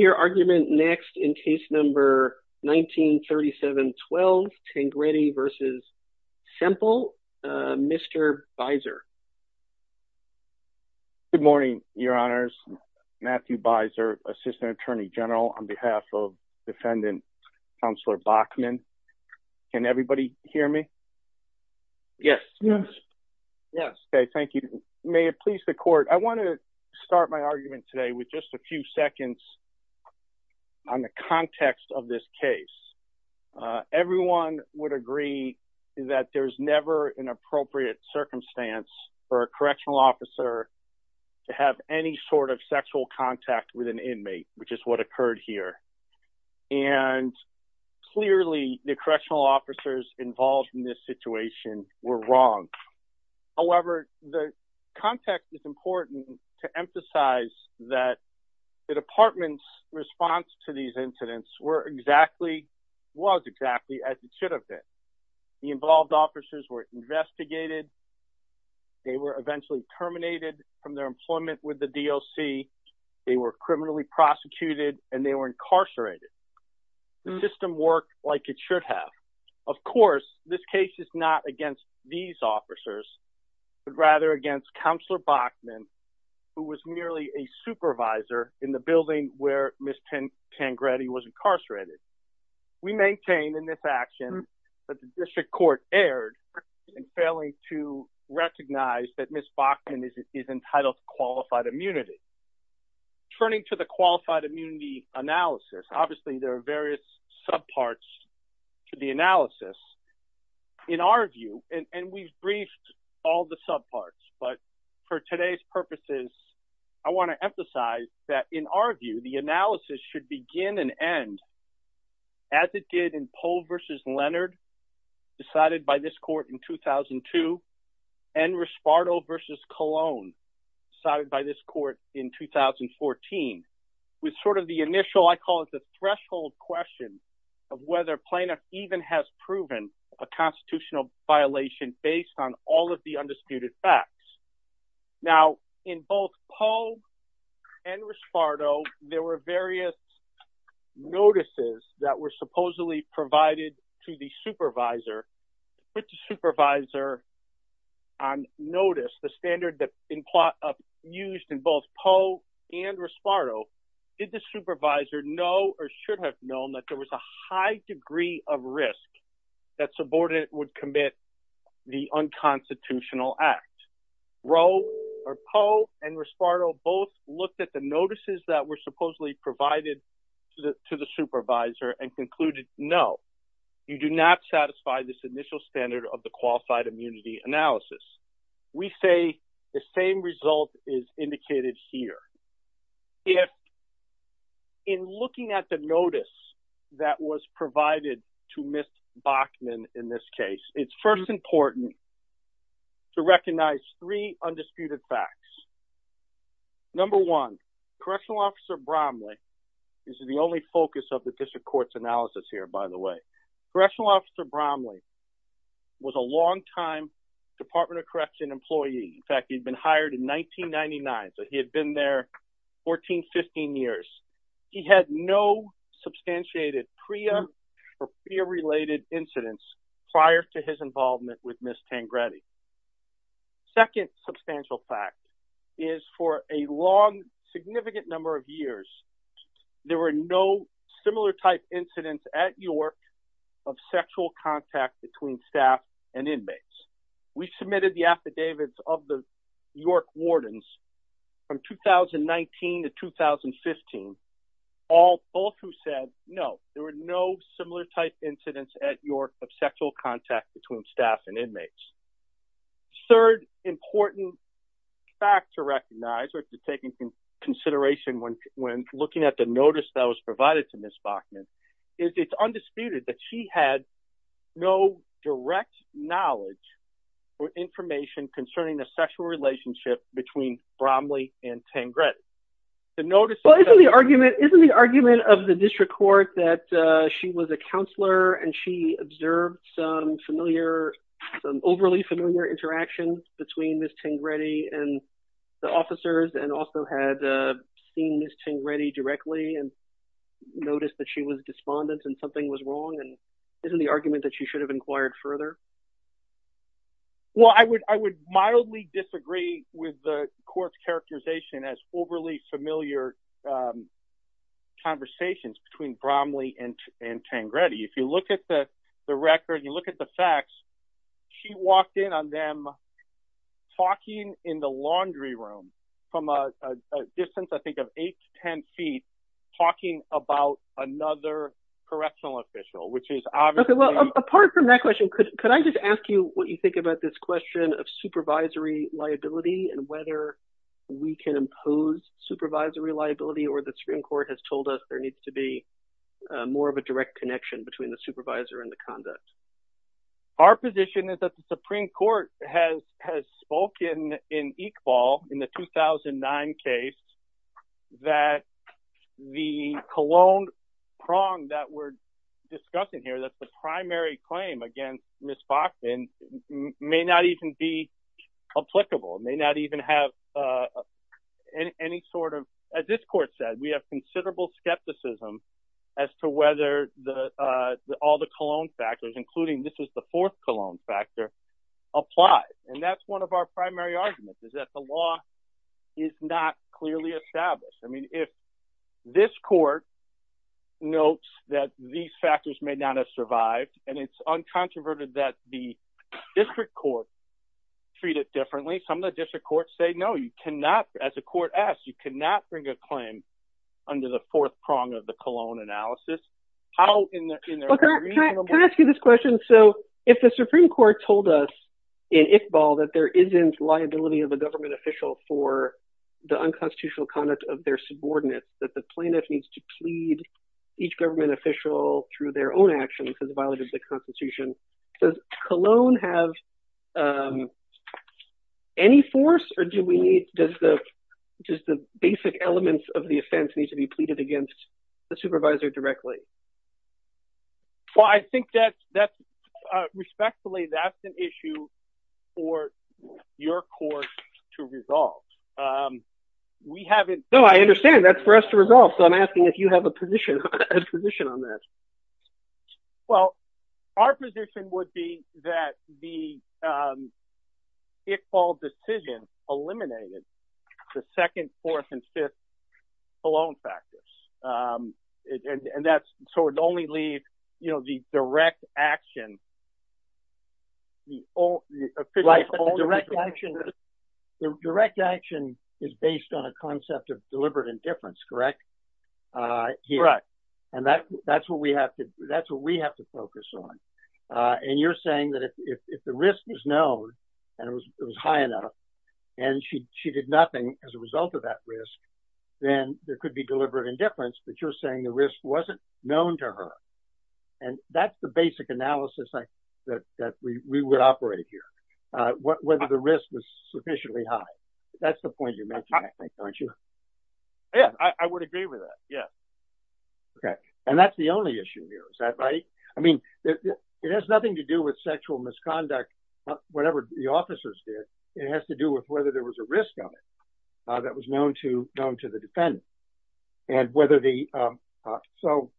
your argument next in case number 1937-12 Tengreti v. Semple. Mr. Beiser. Good morning, your honors. Matthew Beiser, Assistant Attorney General on behalf of Defendant Counselor Bachman. Can everybody hear me? Yes. Yes. Okay, thank you. May it please the court, I want to start my argument today with just a few seconds on the context of this case. Everyone would agree that there's never an appropriate circumstance for a correctional officer to have any sort of sexual contact with an inmate, which is what occurred here. And clearly the correctional officers involved in this situation were wrong. However, the context is important to emphasize that the department's response to these incidents were exactly, was exactly, as it should have been. The involved officers were investigated, they were eventually terminated from their employment with the DOC, they were criminally prosecuted, and they were incarcerated. The system worked like it should have. Of course, this case is not against these officers, but rather against Counselor Bachman, who was merely a supervisor in the building where Ms. Tangretti was incarcerated. We maintain in this action that the district court erred in failing to recognize that Ms. Bachman is entitled to qualified immunity. Turning to the qualified immunity analysis, obviously there are various sub parts to the analysis. In our view, and we've all the sub parts, but for today's purposes, I want to emphasize that in our view, the analysis should begin and end as it did in Pohl v. Leonard, decided by this court in 2002, and Rispardo v. Colon, decided by this court in 2014, with sort of the initial, I call it the threshold question, of whether plaintiff even has proven a constitutional violation based on all of the undisputed facts. Now, in both Pohl and Rispardo, there were various notices that were supposedly provided to the supervisor, but the supervisor on notice, the standard that used in both Pohl and Rispardo, did the supervisor know or risk that subordinate would commit the unconstitutional act? Pohl and Rispardo both looked at the notices that were supposedly provided to the supervisor and concluded, no, you do not satisfy this initial standard of the qualified immunity analysis. We say the same result is indicated here. If, in was provided to Ms. Bachman in this case, it's first important to recognize three undisputed facts. Number one, Correctional Officer Bromley, this is the only focus of the district court's analysis here, by the way, Correctional Officer Bromley was a longtime Department of Correction employee. In fact, he'd been hired in 1999, so he had been there 14, 15 years. He had no substantiated PREA or PREA-related incidents prior to his involvement with Ms. Tangretti. Second substantial fact is for a long, significant number of years, there were no similar type incidents at York of sexual contact between staff and inmates. We submitted the affidavits of the York Wardens from 2019 to 2015, both who said, no, there were no similar type incidents at York of sexual contact between staff and inmates. Third important fact to recognize or to take into consideration when looking at the notice that was provided to Ms. Bachman is it's undisputed that she had no direct knowledge or information concerning the sexual relationship between Bromley and Tangretti. The notice Well, isn't the argument of the district court that she was a counselor and she observed some familiar, overly familiar interactions between Ms. Tangretti and the officers and also had seen Ms. Tangretti directly and noticed that she was despondent and something was wrong, and isn't the argument that she should have inquired further? Well, I would mildly disagree with the court's characterization as overly familiar conversations between Bromley and Tangretti. If you look at the record, you look at the facts, she walked in on them talking in the laundry room from a distance, I think, of eight to ten feet, talking about another correctional official, which is obviously... Okay, well, apart from that question, could I just ask you what you think about this question of supervisory liability and whether we can impose supervisory liability or the Supreme Court has told us there needs to be more of a direct connection between the supervisor and the conduct? Our position is that the Supreme Court has has spoken in Iqbal in the 2009 case that the cologne prong that we're discussing here, that's the primary claim against Ms. Foxman, may not even be applicable, may not even have any sort of... As this court said, we have considerable skepticism as to whether all the cologne factors, including this is the fourth cologne factor, apply, and that's one of our primary arguments, is that the law is not clearly established. I mean, if this court notes that these factors may not have survived, and it's uncontroverted that the district court treat it differently, some of the district courts say, no, you cannot, as the court asks, you cannot bring a claim under the fourth prong of the cologne analysis. How in the... Can I ask you this question? So, if the Supreme Court told us in Iqbal that there isn't liability of a government official for the unconstitutional conduct of their subordinates, that the plaintiff needs to plead each government official through their own actions as a violation of the Constitution, does cologne have any force, or do we need, does the just the basic elements of the offense need to be pleaded against the supervisor directly? Well, I think that that's, respectfully, that's an issue for your court to resolve. We haven't... No, I understand, that's for us to resolve, so I'm asking if you have a position on that. Well, our position would be that the Iqbal decision eliminated the second, fourth, and fifth cologne factors, and that's, so it only leaves, you know, the direct action. The direct action is based on a concept of deliberate indifference, correct? Correct. And that's what we have to, that's what we have to focus on, and you're saying that if the risk was known, and it was high enough, and she did nothing as a result of that risk, then there could be deliberate indifference, but you're saying the risk wasn't known to her, and that's the basic analysis that we would operate here, whether the risk was sufficiently high. That's the point you're making, aren't you? Yeah, I would agree with that, yeah. Okay, and that's the only issue here, is that right? I mean, it has nothing to do with sexual misconduct, whatever the officers did, it has to do with whether there was a risk of it that was known to the defendant, and whether the, so,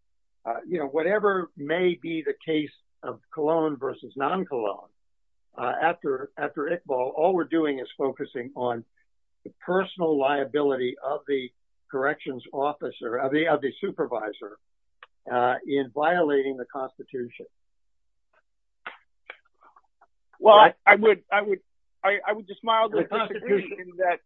you know, whatever may be the case of cologne versus non-cologne, after Iqbal, all we're doing is focusing on the personal liability of the corrections officer, of the supervisor, in violating the Constitution. Well, I would just say that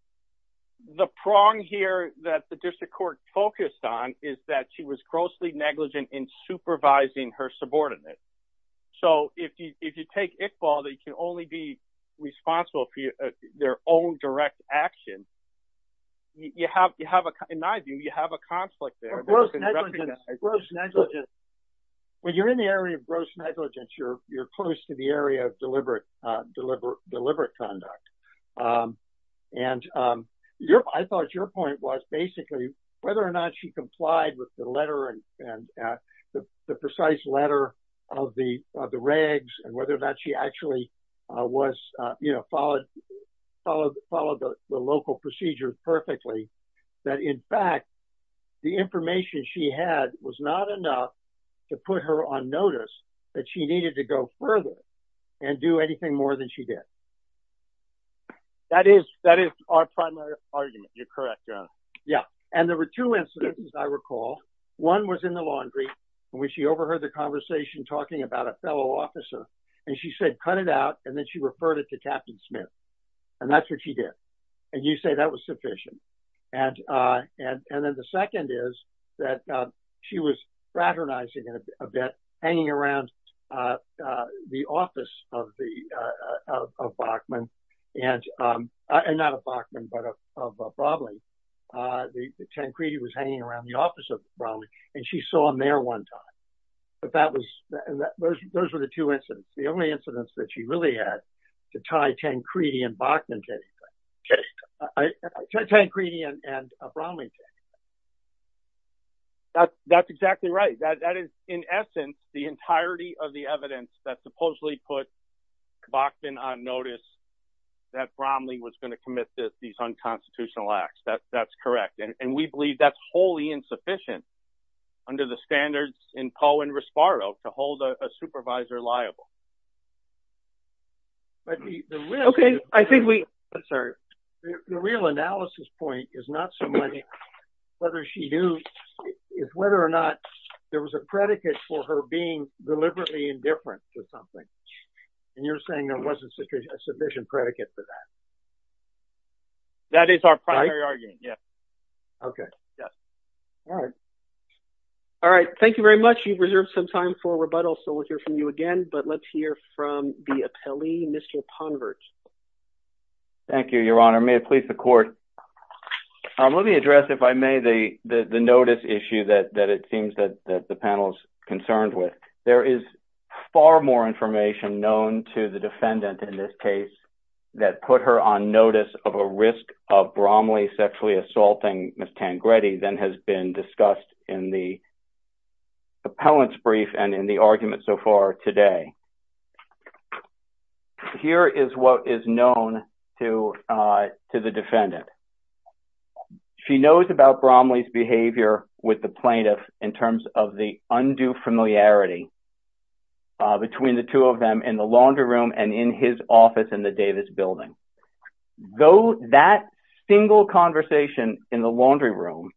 the prong here that the district court focused on is that she was grossly negligent in supervising her subordinates. So, if you take Iqbal, they can only be responsible for their own direct action. You have, in my view, you have a conflict there. When you're in the area of gross negligence, you're close to the area of deliberate conduct, and I thought your point was, basically, whether or not she complied with the letter, and the precise letter of the regs, and whether or not she actually was, you know, followed the local procedure perfectly, that, in fact, the to go further and do anything more than she did. That is, that is our primary argument. You're correct. Yeah, and there were two instances, I recall. One was in the laundry, when she overheard the conversation talking about a fellow officer, and she said, cut it out, and then she referred it to Captain Smith, and that's what she did, and you say that was sufficient, and then the office of Bachman, and not of Bachman, but of Brodley, Tancredi was hanging around the office of Brodley, and she saw him there one time, but that was, those were the two incidents. The only incidents that she really had to tie Tancredi and Bachman to anything, tie Tancredi and Brodley to anything. That's, that's exactly right. That is, in essence, the entirety of the evidence that supposedly put Bachman on notice that Bromley was going to commit these unconstitutional acts. That's, that's correct, and we believe that's wholly insufficient under the standards in Poe and Rispardo to hold a supervisor liable. Okay, I think we, I'm sorry. The real analysis point is not so much whether she knew, it's whether or not there was a predicate for her being deliberately indifferent to something, and you're saying there wasn't a sufficient predicate for that. That is our primary argument, yes. Okay, all right. All right, thank you very much. You've reserved some time for rebuttal, so we'll hear from you again, but let's hear from the appellee, Mr. Ponvert. Thank you, Your Honor. May it please the court. Let me address, if I may, the, the notice issue that, that it seems that, that the panel is concerned with. There is far more information known to the defendant in this case that put her on notice of a risk of Bromley sexually assaulting Miss Tancredi than has been discussed in the appellant's brief and in the argument so far today. Here is what is known to, to the defendant. She knows about Bromley's behavior with the plaintiff in terms of the undue familiarity between the two of them in the laundry room and in his office in the Davis building. Though that single conversation in the laundry room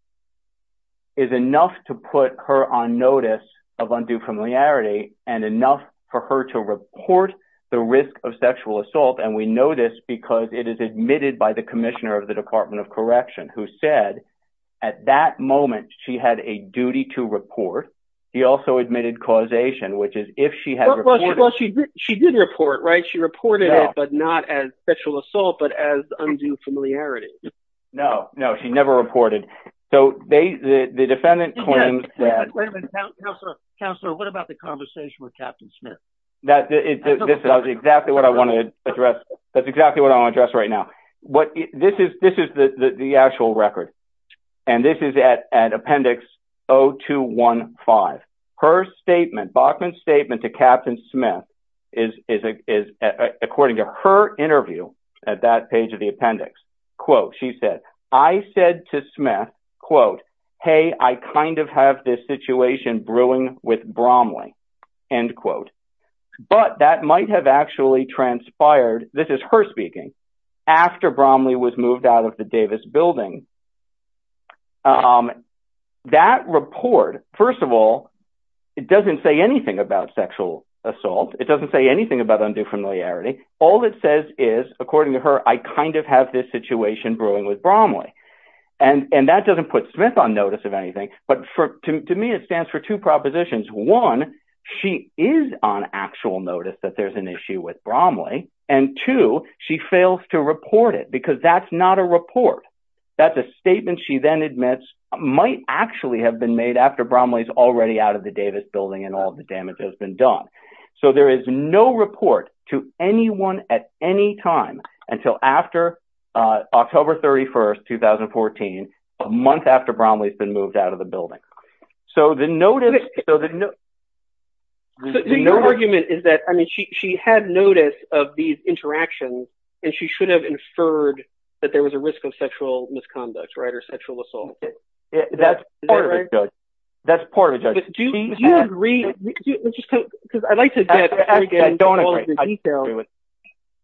is enough to put her on notice of undue familiarity and enough for her to report the risk of sexual assault, and we know this because it is admitted by the Commissioner of the Department of Correction, who said at that moment she had a duty to report. He also admitted causation, which is if she had reported. She did report, right? She reported it, but not as sexual assault, but as undue familiarity. No, no, she never reported. So, they, the defendant claims that. Wait a minute, Counselor, what about the conversation with Captain Smith? That is exactly what I wanted to address. That's exactly what I want to address right now. What, this is, this is the actual record, and this is at Appendix 0215. Her statement, Bachman's statement to Captain Smith is, according to her interview at that page of the appendix, quote, she said, I said to Smith, quote, hey I kind of have this situation brewing with Bromley, end quote. But that might have actually transpired, this is her speaking, after Bromley was moved out of the Davis building. That report, first of all, it doesn't say anything about sexual familiarity. All it says is, according to her, I kind of have this situation brewing with Bromley. And, and that doesn't put Smith on notice of anything, but for, to me it stands for two propositions. One, she is on actual notice that there's an issue with Bromley, and two, she fails to report it, because that's not a report. That's a statement she then admits might actually have been made after Bromley's already out of the Davis building and all the damage has been done. So, there is no report to anyone at any time until after October 31st, 2014, a month after Bromley's been moved out of the building. So, the notice, so the, no argument is that, I mean, she had notice of these interactions and she should have inferred that there was a risk of sexual misconduct, right, or sexual assault. That's part of it, Judge. That's part of it, Judge. Do you agree, because I'd like to get into all of the details. I don't agree.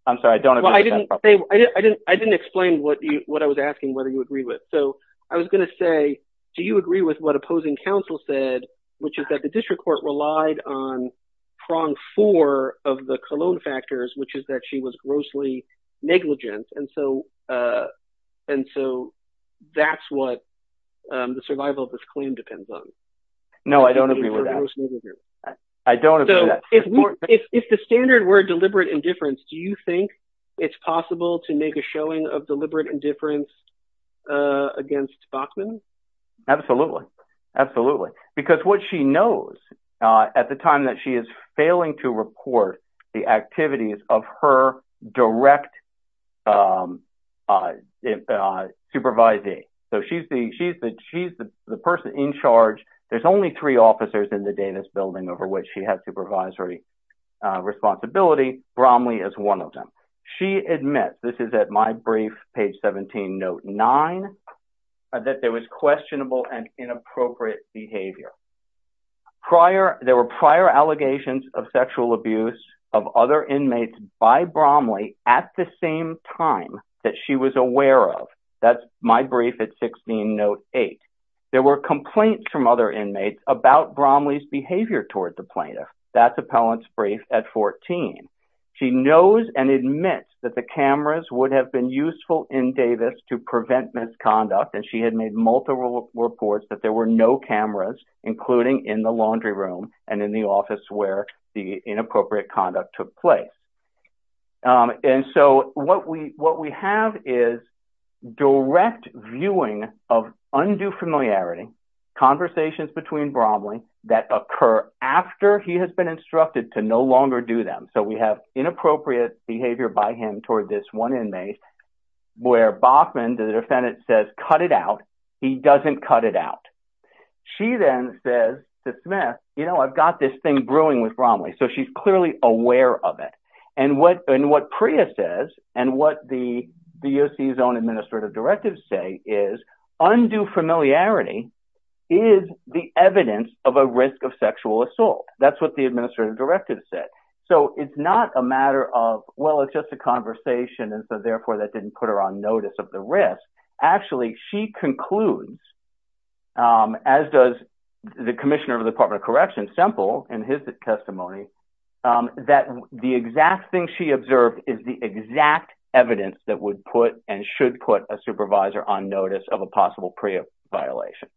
I'm sorry, I don't agree with that. Well, I didn't say, I didn't, I didn't explain what you, what I was asking, whether you agree with. So, I was going to say, do you agree with what opposing counsel said, which is that the district court relied on prong four of the Cologne factors, which is that she was grossly negligent, and so, and so that's what the survival of this claim depends on. No, I don't agree with that. I don't agree with that. So, if the standard were deliberate indifference, do you think it's possible to make a showing of deliberate indifference against Bachman? Absolutely, absolutely, because what she knows, at the time that she is failing to report the activities of her direct supervisee, so she's the, she's the, she's the person in charge. There's only three officers in the Davis building over which she has supervisory responsibility. Bromley is one of them. She admits, this is at my brief, page 17, note 9, that there is questionable and inappropriate behavior. Prior, there were prior allegations of sexual abuse of other inmates by Bromley at the same time that she was aware of. That's my brief at 16, note 8. There were complaints from other inmates about Bromley's behavior toward the plaintiff. That's appellant's brief at 14. She knows and admits that the cameras would have been useful in Davis to prevent misconduct, and she had made multiple reports that there were no cameras, including in the laundry room and in the office where the inappropriate conduct took place. And so, what we, what we have is direct viewing of undue familiarity, conversations between Bromley that occur after he has been instructed to no longer do them. So, we have inappropriate behavior by him toward this one inmate, where Bachman, the defendant, says, cut it out. He doesn't cut it out. She then says to Smith, you know, I've got this thing brewing with Bromley, so she's clearly aware of it. And what, and what Priya says, and what the DOC's own administrative directives say is, undue familiarity is the evidence of a risk of sexual assault. That's what the administrative directive said. So, it's not a matter of, well, it's just a conversation, and so, therefore, that didn't put her on notice of the risk. Actually, she concludes, as does the Commissioner of the Department of Correction, Semple, in his testimony, that the exact thing she observed is the exact evidence that would put, and should put, a supervisor on notice of a possible Priya violation.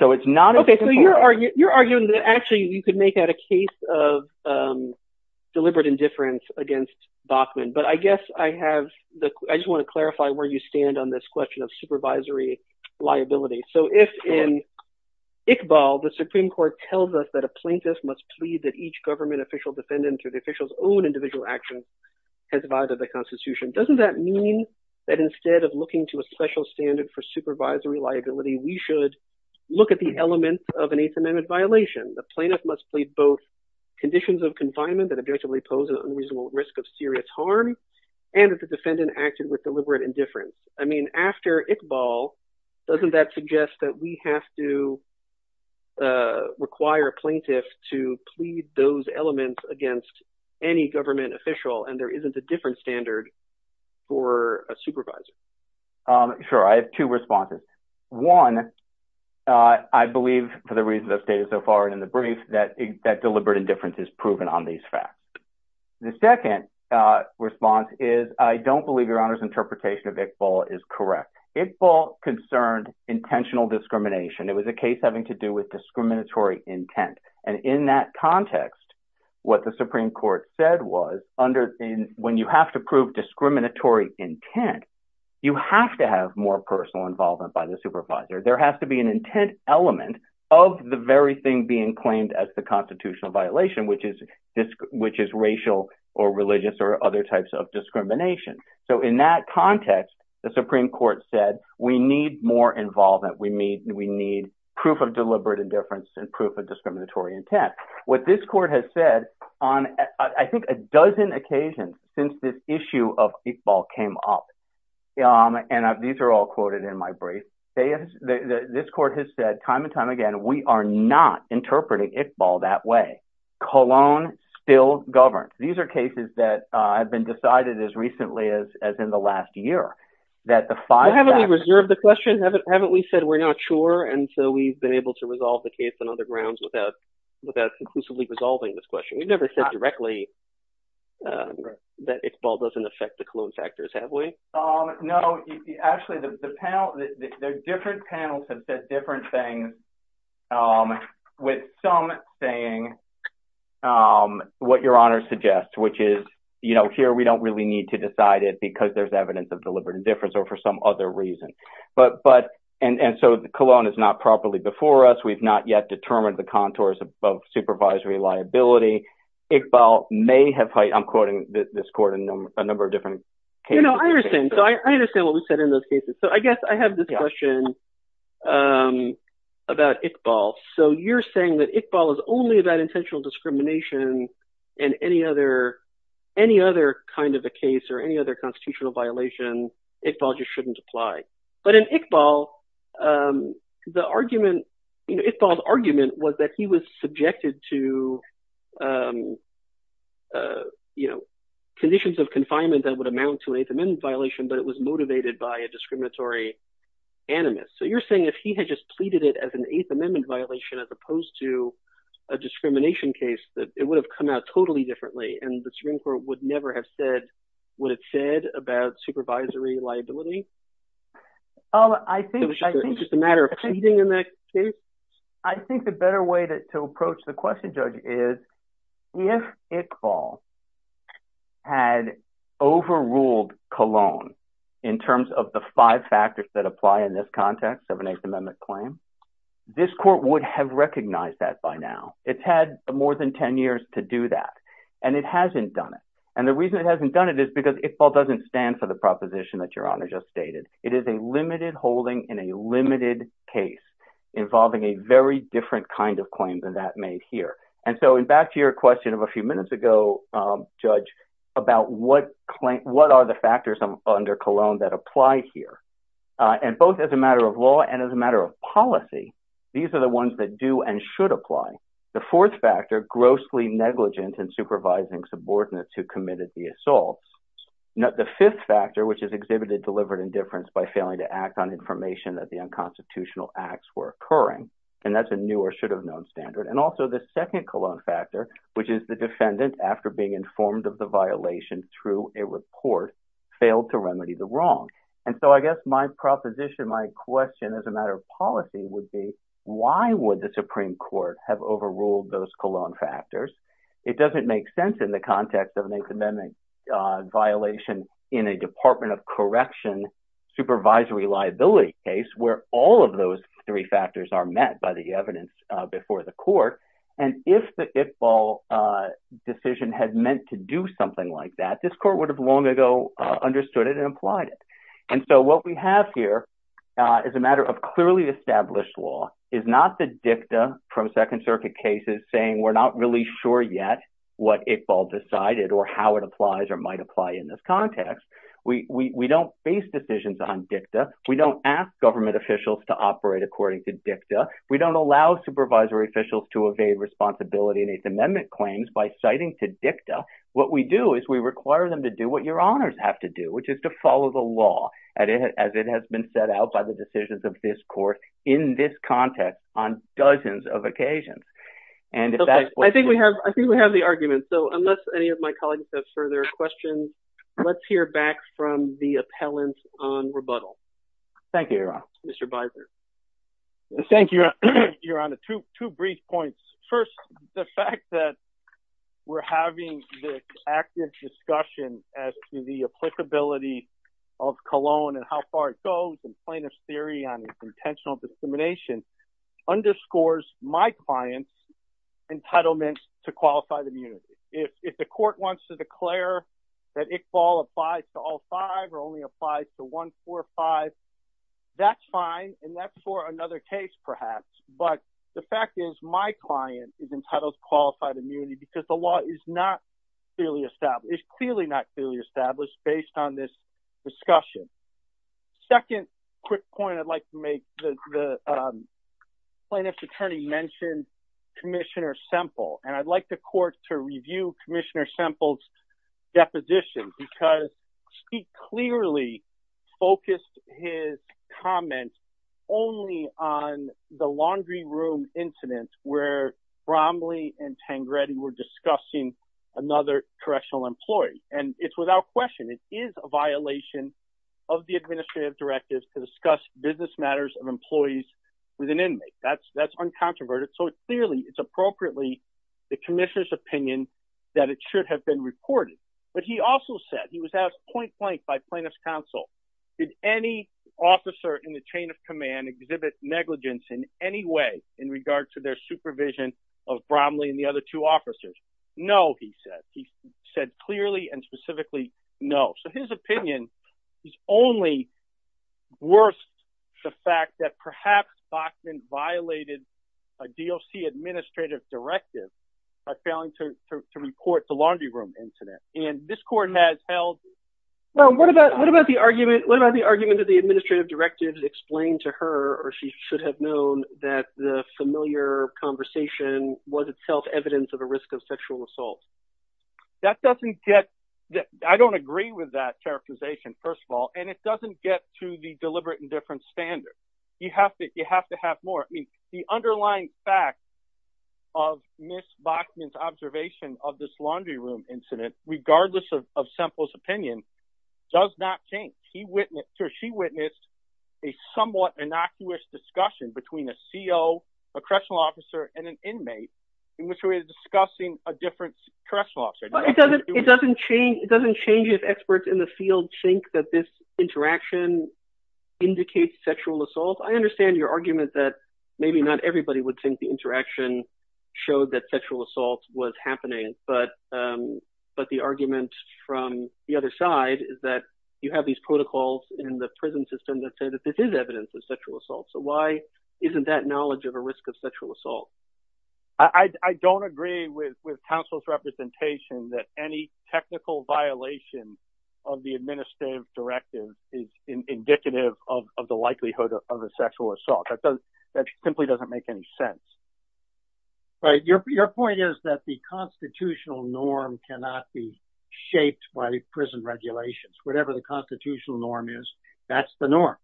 So, it's not... Okay, so you're arguing that, actually, you could make that a case of deliberate indifference against Bachman, but I guess I have the, I just want to clarify where you stand on this question of supervisory liability. So, if in Iqbal, the Supreme Court tells us that a plaintiff must plead that each government official, defendant, or the official's own individual action has violated the Constitution, doesn't that mean that instead of looking to a special standard for supervisory liability, we should look at the elements of an Eighth Amendment violation? The plaintiff must plead both conditions of confinement that objectively pose an unreasonable risk of serious harm, and if the defendant acted with deliberate indifference. I mean, after Iqbal, doesn't that suggest that we have to require a plaintiff to plead those elements against any government official, and there isn't a different standard for a reason that's stated so far in the brief, that deliberate indifference is proven on these facts. The second response is, I don't believe Your Honor's interpretation of Iqbal is correct. Iqbal concerned intentional discrimination. It was a case having to do with discriminatory intent, and in that context, what the Supreme Court said was, when you have to prove discriminatory intent, you have to have more personal involvement by the plaintiff of the very thing being claimed as the constitutional violation, which is racial or religious or other types of discrimination. So in that context, the Supreme Court said, we need more involvement, we need proof of deliberate indifference and proof of discriminatory intent. What this court has said on, I think, a dozen occasions since this issue of Iqbal came up, and these are all quoted in my brief, this court has said time and time again, we are not interpreting Iqbal that way. Cologne still governs. These are cases that have been decided as recently as in the last year, that the five... Haven't we reserved the question? Haven't we said we're not sure, and so we've been able to resolve the case on other grounds without inclusively resolving this question? We've never said directly that Iqbal doesn't affect the Cologne factors, have we? No, actually, the panel, the different panels have said different things, with some saying what Your Honor suggests, which is, you know, here we don't really need to decide it because there's evidence of deliberate indifference or for some other reason. But, and so Cologne is not properly before us. We've not yet determined the contours of supervisory liability. Iqbal may have... I'm quoting this court in a number of different cases. You know, I understand. So I understand what was said in those cases. So I guess I have this question about Iqbal. So you're saying that Iqbal is only about intentional discrimination and any other, any other kind of a case or any other constitutional violation, Iqbal just shouldn't apply. But in Iqbal, the argument, you know, Iqbal's argument was that he was subjected to, you know, conditions of confinement that would amount to an Eighth Amendment violation, but it was motivated by a discriminatory animus. So you're saying if he had just pleaded it as an Eighth Amendment violation, as opposed to a discrimination case, that it would have come out totally differently and the Supreme Court would never have said what it said about supervisory liability? Oh, I think... It was just a matter of pleading in that case? I think the better way to approach the In terms of the five factors that apply in this context of an Eighth Amendment claim, this court would have recognized that by now. It's had more than ten years to do that, and it hasn't done it. And the reason it hasn't done it is because Iqbal doesn't stand for the proposition that Your Honor just stated. It is a limited holding in a limited case involving a very different kind of claim than that made here. And so back to your question of a few minutes ago, Judge, about what are the factors under Cologne that apply here. And both as a matter of law and as a matter of policy, these are the ones that do and should apply. The fourth factor, grossly negligent in supervising subordinates who committed the assaults. The fifth factor, which is exhibited delivered indifference by failing to act on information that the unconstitutional acts were occurring. And that's a new or should have known standard. And also the second Cologne factor, which is the defendant, after being informed of the violation through a report, failed to remedy the wrong. And so I guess my proposition, my question as a matter of policy, would be why would the Supreme Court have overruled those Cologne factors? It doesn't make sense in the context of an Eighth Amendment violation in a Department of Correction supervisory liability case where all of those three factors are met by the evidence before the court. And if the Iqbal decision had meant to do something like that, this court would have long ago understood it and applied it. And so what we have here is a matter of clearly established law. It's not the dicta from Second Circuit cases saying we're not really sure yet what Iqbal decided or how it applies or might apply in this context. We don't face decisions on dicta. We don't ask government officials to operate according to dicta. We don't allow supervisory officials to evade responsibility in Eighth Amendment claims by citing to dicta. What we do is we require them to do what your honors have to do, which is to follow the law as it has been set out by the decisions of this court in this context on dozens of occasions. And I think we have, I think we have the argument. So unless any of my colleagues have further questions, let's hear back from the appellant on rebuttal. Thank you, Your Honor. Mr. Beiser. Thank you, Your Honor. Two brief points. First, the fact that we're having this active discussion as to the applicability of Cologne and how far it goes and plaintiff's theory on intentional discrimination underscores my client's entitlement to qualified immunity. If the court wants to declare that Iqbal applies to all five or only applies to one, four, five, that's fine and that's for another case perhaps. But the fact is my client is entitled to qualified immunity because the law is not clearly established, it's clearly not clearly established based on this discussion. Second quick point I'd like to make, the plaintiff's attorney mentioned Commissioner Semple and I'd like the court to review Commissioner Semple's deposition because he clearly focused his comments only on the laundry room incident where Bromley and Tangretti were discussing another correctional employee. And it's without question, it is a violation of the administrative directives to discuss business matters of employees with an inmate. That's uncontroverted. So it's clearly, it's appropriately the have been reported. But he also said, he was asked point-blank by plaintiff's counsel, did any officer in the chain of command exhibit negligence in any way in regard to their supervision of Bromley and the other two officers? No, he said. He said clearly and specifically no. So his opinion is only worse the fact that perhaps Bachman violated a DOC administrative directive by failing to report the laundry room incident. And this court has held. Well, what about, what about the argument, what about the argument that the administrative directives explained to her or she should have known that the familiar conversation was itself evidence of a risk of sexual assault? That doesn't get, I don't agree with that characterization, first of all. And it doesn't get to the deliberate indifference standard. You have to, you Ms. Bachman's observation of this laundry room incident, regardless of Semple's opinion, does not change. He witnessed, or she witnessed a somewhat innocuous discussion between a CO, a correctional officer, and an inmate in which we were discussing a different correctional officer. It doesn't, it doesn't change, it doesn't change if experts in the field think that this interaction indicates sexual assault. I understand your argument that maybe not everybody would think the interaction showed that sexual assault was happening, but, but the argument from the other side is that you have these protocols in the prison system that say that this is evidence of sexual assault. So why isn't that knowledge of a risk of sexual assault? I don't agree with, with counsel's representation that any technical violation of the administrative directive is indicative of the likelihood of a sexual assault. That simply doesn't make any sense. But your point is that the constitutional norm cannot be shaped by prison regulations. Whatever the constitutional norm is, that's the norm.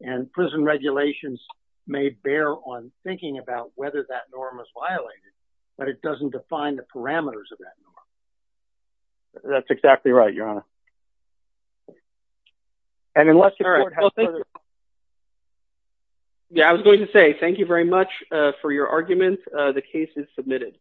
And prison regulations may bear on thinking about whether that norm is violated, but it doesn't define the parameters of that norm. That's exactly it. Thank you very much for your argument. The case is submitted.